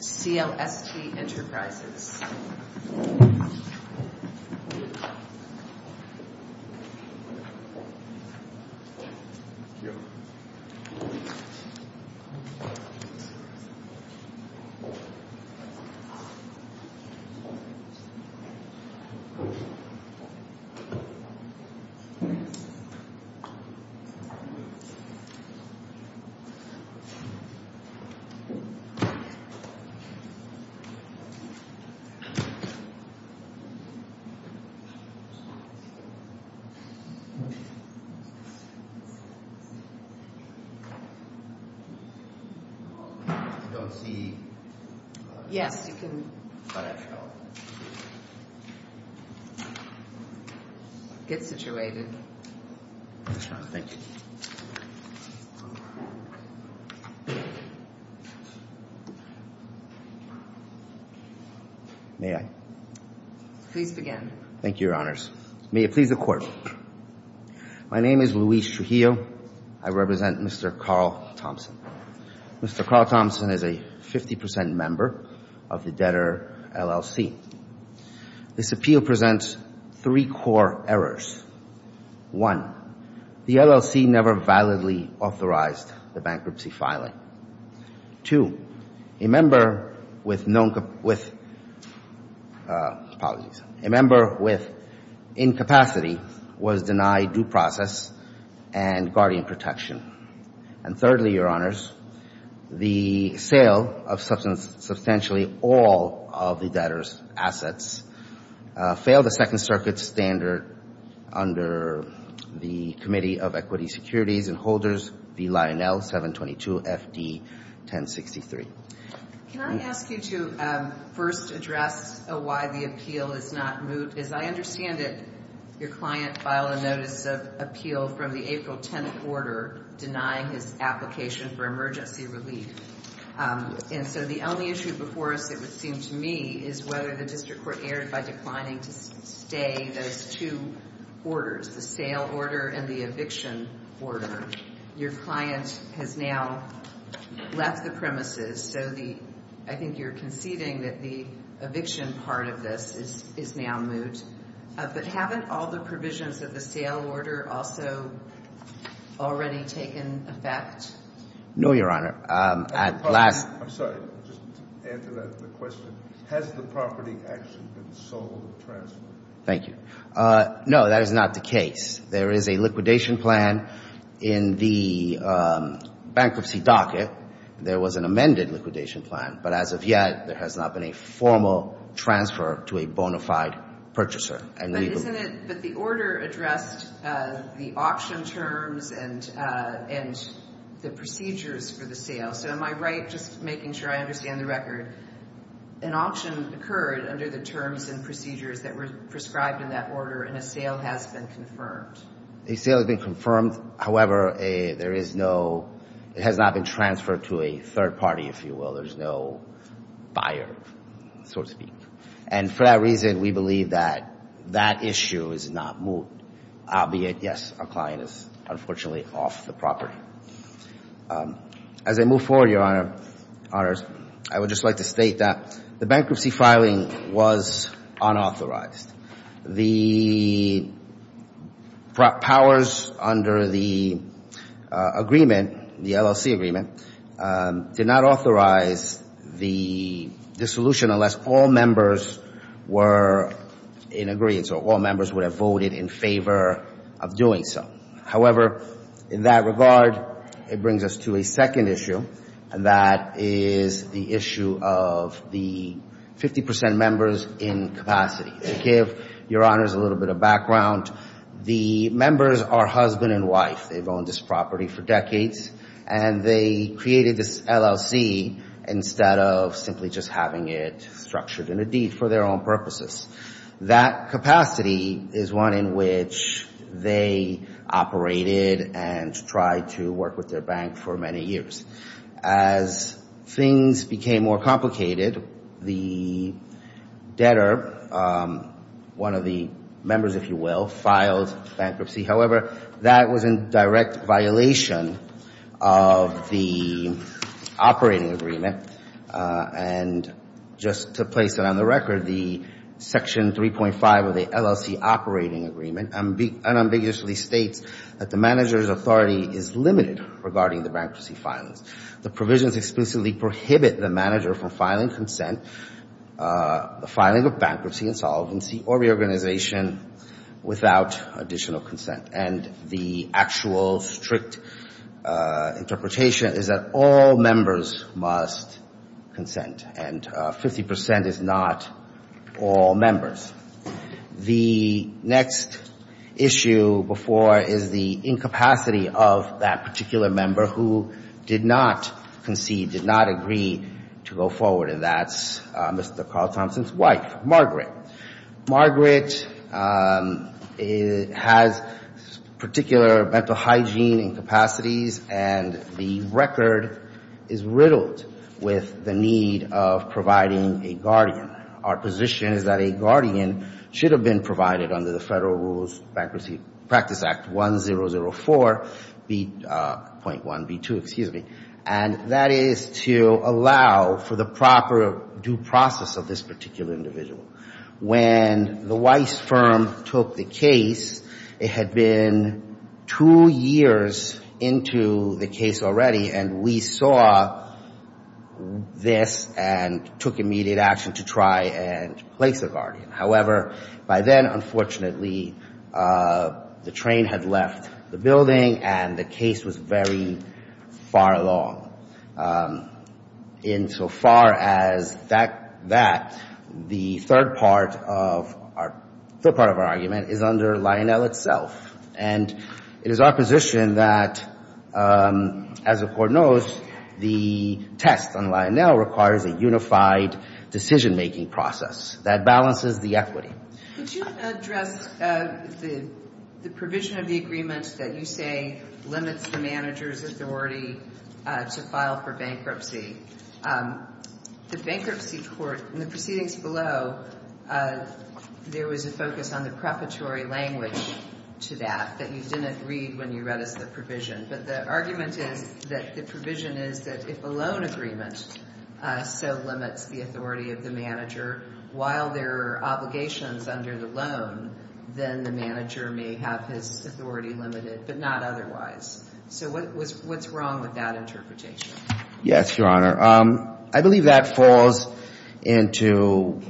CLST Enterprises I don't see... Yes. ...if you can cut out. Get situated. Yes, Your Honor. Thank you. May I? Please begin. Thank you, Your Honors. May it please the Court. My name is Luis Trujillo. I represent Mr. Carl Thompson. Mr. Carl Thompson is a 50% member of the debtor LLC. This appeal presents three core errors. One, the LLC never validly authorized the bankruptcy filing. Two, a member with known... Apologies. A member with incapacity was denied due process and guardian protection. And thirdly, Your Honors, the sale of substantially all of the debtor's assets failed the Second Circuit standard under the Committee of Equity, Securities, and Holders, the Lionel 722 FD 1063. Can I ask you to first address why the appeal is not moved? Because I understand that your client filed a notice of appeal from the April 10th order denying his application for emergency relief. And so the only issue before us, it would seem to me, is whether the district court erred by declining to stay those two orders, the sale order and the eviction order. Your client has now left the premises, so I think you're conceding that the eviction part of this is now moved. But haven't all the provisions of the sale order also already taken effect? No, Your Honor. I'm sorry. Just to answer the question, has the property actually been sold or transferred? Thank you. No, that is not the case. There is a liquidation plan in the bankruptcy docket. There was an amended liquidation plan, but as of yet there has not been a formal transfer to a bona fide purchaser. But the order addressed the auction terms and the procedures for the sale. So am I right, just making sure I understand the record, an auction occurred under the terms and procedures that were prescribed in that order and a sale has been confirmed? A sale has been confirmed. However, there is no ñ it has not been transferred to a third party, if you will. There's no buyer, so to speak. And for that reason, we believe that that issue is not moved, albeit, yes, our client is unfortunately off the property. As I move forward, Your Honor, I would just like to state that the bankruptcy filing was unauthorized. The powers under the agreement, the LLC agreement, did not authorize the dissolution unless all members were in agreement, so all members would have voted in favor of doing so. However, in that regard, it brings us to a second issue, and that is the issue of the 50 percent members in capacity. To give Your Honors a little bit of background, the members are husband and wife. They've owned this property for decades, and they created this LLC instead of simply just having it structured in a deed for their own purposes. That capacity is one in which they operated and tried to work with their bank for many years. As things became more complicated, the debtor, one of the members, if you will, filed bankruptcy. However, that was in direct violation of the operating agreement, and just to place it on the record, the Section 3.5 of the LLC operating agreement unambiguously states that the manager's authority is limited regarding the bankruptcy filings. The provisions explicitly prohibit the manager from filing consent, the filing of bankruptcy, insolvency, or reorganization without additional consent, and the actual strict interpretation is that all members must consent, and 50 percent is not all members. The next issue before is the incapacity of that particular member who did not concede, did not agree to go forward, and that's Mr. Carl Thompson's wife, Margaret. Margaret has particular mental hygiene incapacities, and the record is riddled with the need of providing a guardian. Our position is that a guardian should have been provided under the Federal Rules Bankruptcy Practice Act 1004.1B2, excuse me, and that is to allow for the proper due process of this particular individual. When the Weiss firm took the case, it had been two years into the case already, and we saw this and took immediate action to try and place a guardian. However, by then, unfortunately, the train had left the building, and the case was very far along. Insofar as that, the third part of our argument is under Lionel itself, and it is our position that, as the Court knows, the test on Lionel requires a unified decision-making process that balances the equity. Could you address the provision of the agreement that you say limits the manager's authority to file for bankruptcy? The bankruptcy court, in the proceedings below, there was a focus on the preparatory language to that that you didn't read when you read us the provision. But the argument is that the provision is that if a loan agreement so limits the authority of the manager, while there are obligations under the loan, then the manager may have his authority limited, but not otherwise. So what's wrong with that interpretation? Yes, Your Honor. I believe that falls into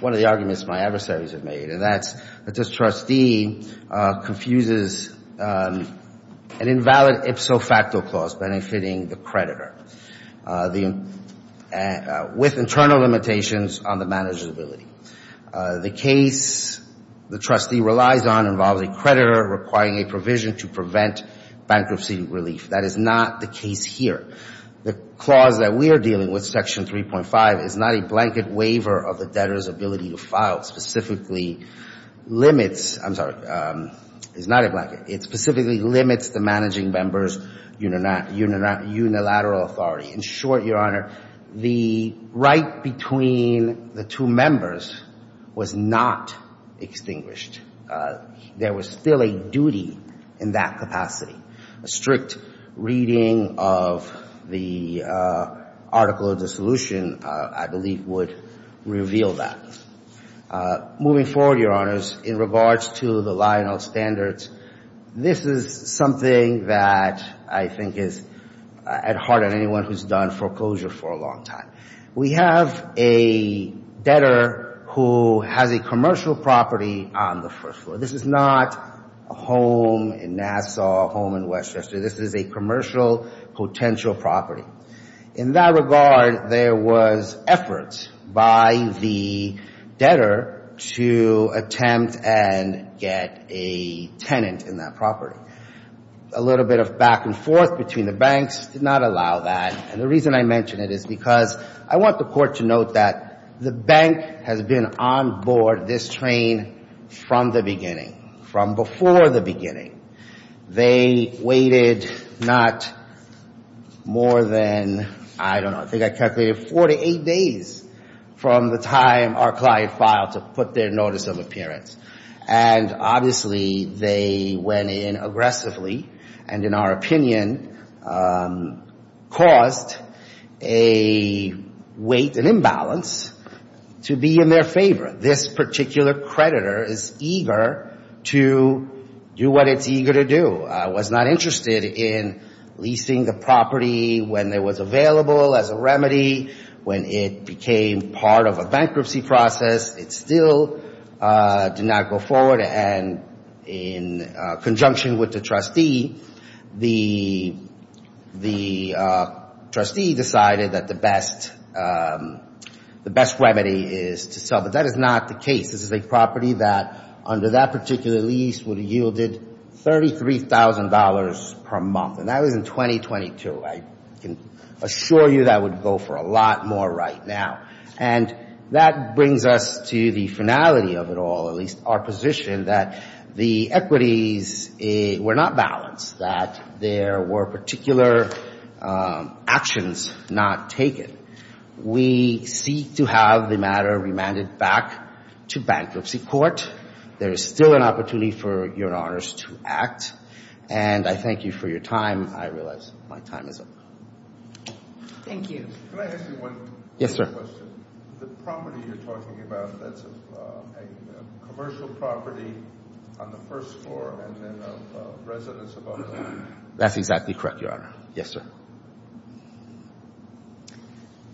one of the arguments my adversaries have made, and that's that this trustee confuses an invalid ipso facto clause benefiting the creditor with internal limitations on the manager's ability. The case the trustee relies on involves a creditor requiring a provision to prevent bankruptcy relief. That is not the case here. The clause that we are dealing with, Section 3.5, is not a blanket waiver of the debtor's ability to file, specifically limits the managing member's unilateral authority. In short, Your Honor, the right between the two members was not extinguished. There was still a duty in that capacity. A strict reading of the article of dissolution, I believe, would reveal that. Moving forward, Your Honors, in regards to the Lionel standards, this is something that I think is at heart on anyone who's done foreclosure for a long time. We have a debtor who has a commercial property on the first floor. This is not a home in Nassau, a home in Westchester. This is a commercial potential property. In that regard, there was effort by the debtor to attempt and get a tenant in that property. A little bit of back and forth between the banks did not allow that. And the reason I mention it is because I want the court to note that the bank has been on board this train from the beginning, from before the beginning. They waited not more than, I don't know, I think I calculated 48 days from the time our client filed to put their notice of appearance. And, obviously, they went in aggressively and, in our opinion, caused a weight, an imbalance to be in their favor. This particular creditor is eager to do what it's eager to do. Was not interested in leasing the property when it was available as a remedy, when it became part of a bankruptcy process. It still did not go forward. And in conjunction with the trustee, the trustee decided that the best remedy is to sell. But that is not the case. This is a property that, under that particular lease, would have yielded $33,000 per month. And that was in 2022. I can assure you that would go for a lot more right now. And that brings us to the finality of it all, at least our position, that the equities were not balanced. That there were particular actions not taken. We seek to have the matter remanded back to bankruptcy court. There is still an opportunity for Your Honors to act. And I thank you for your time. I realize my time is up. That's exactly correct, Your Honor. Yes, sir.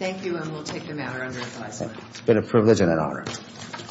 It's been a privilege and an honor.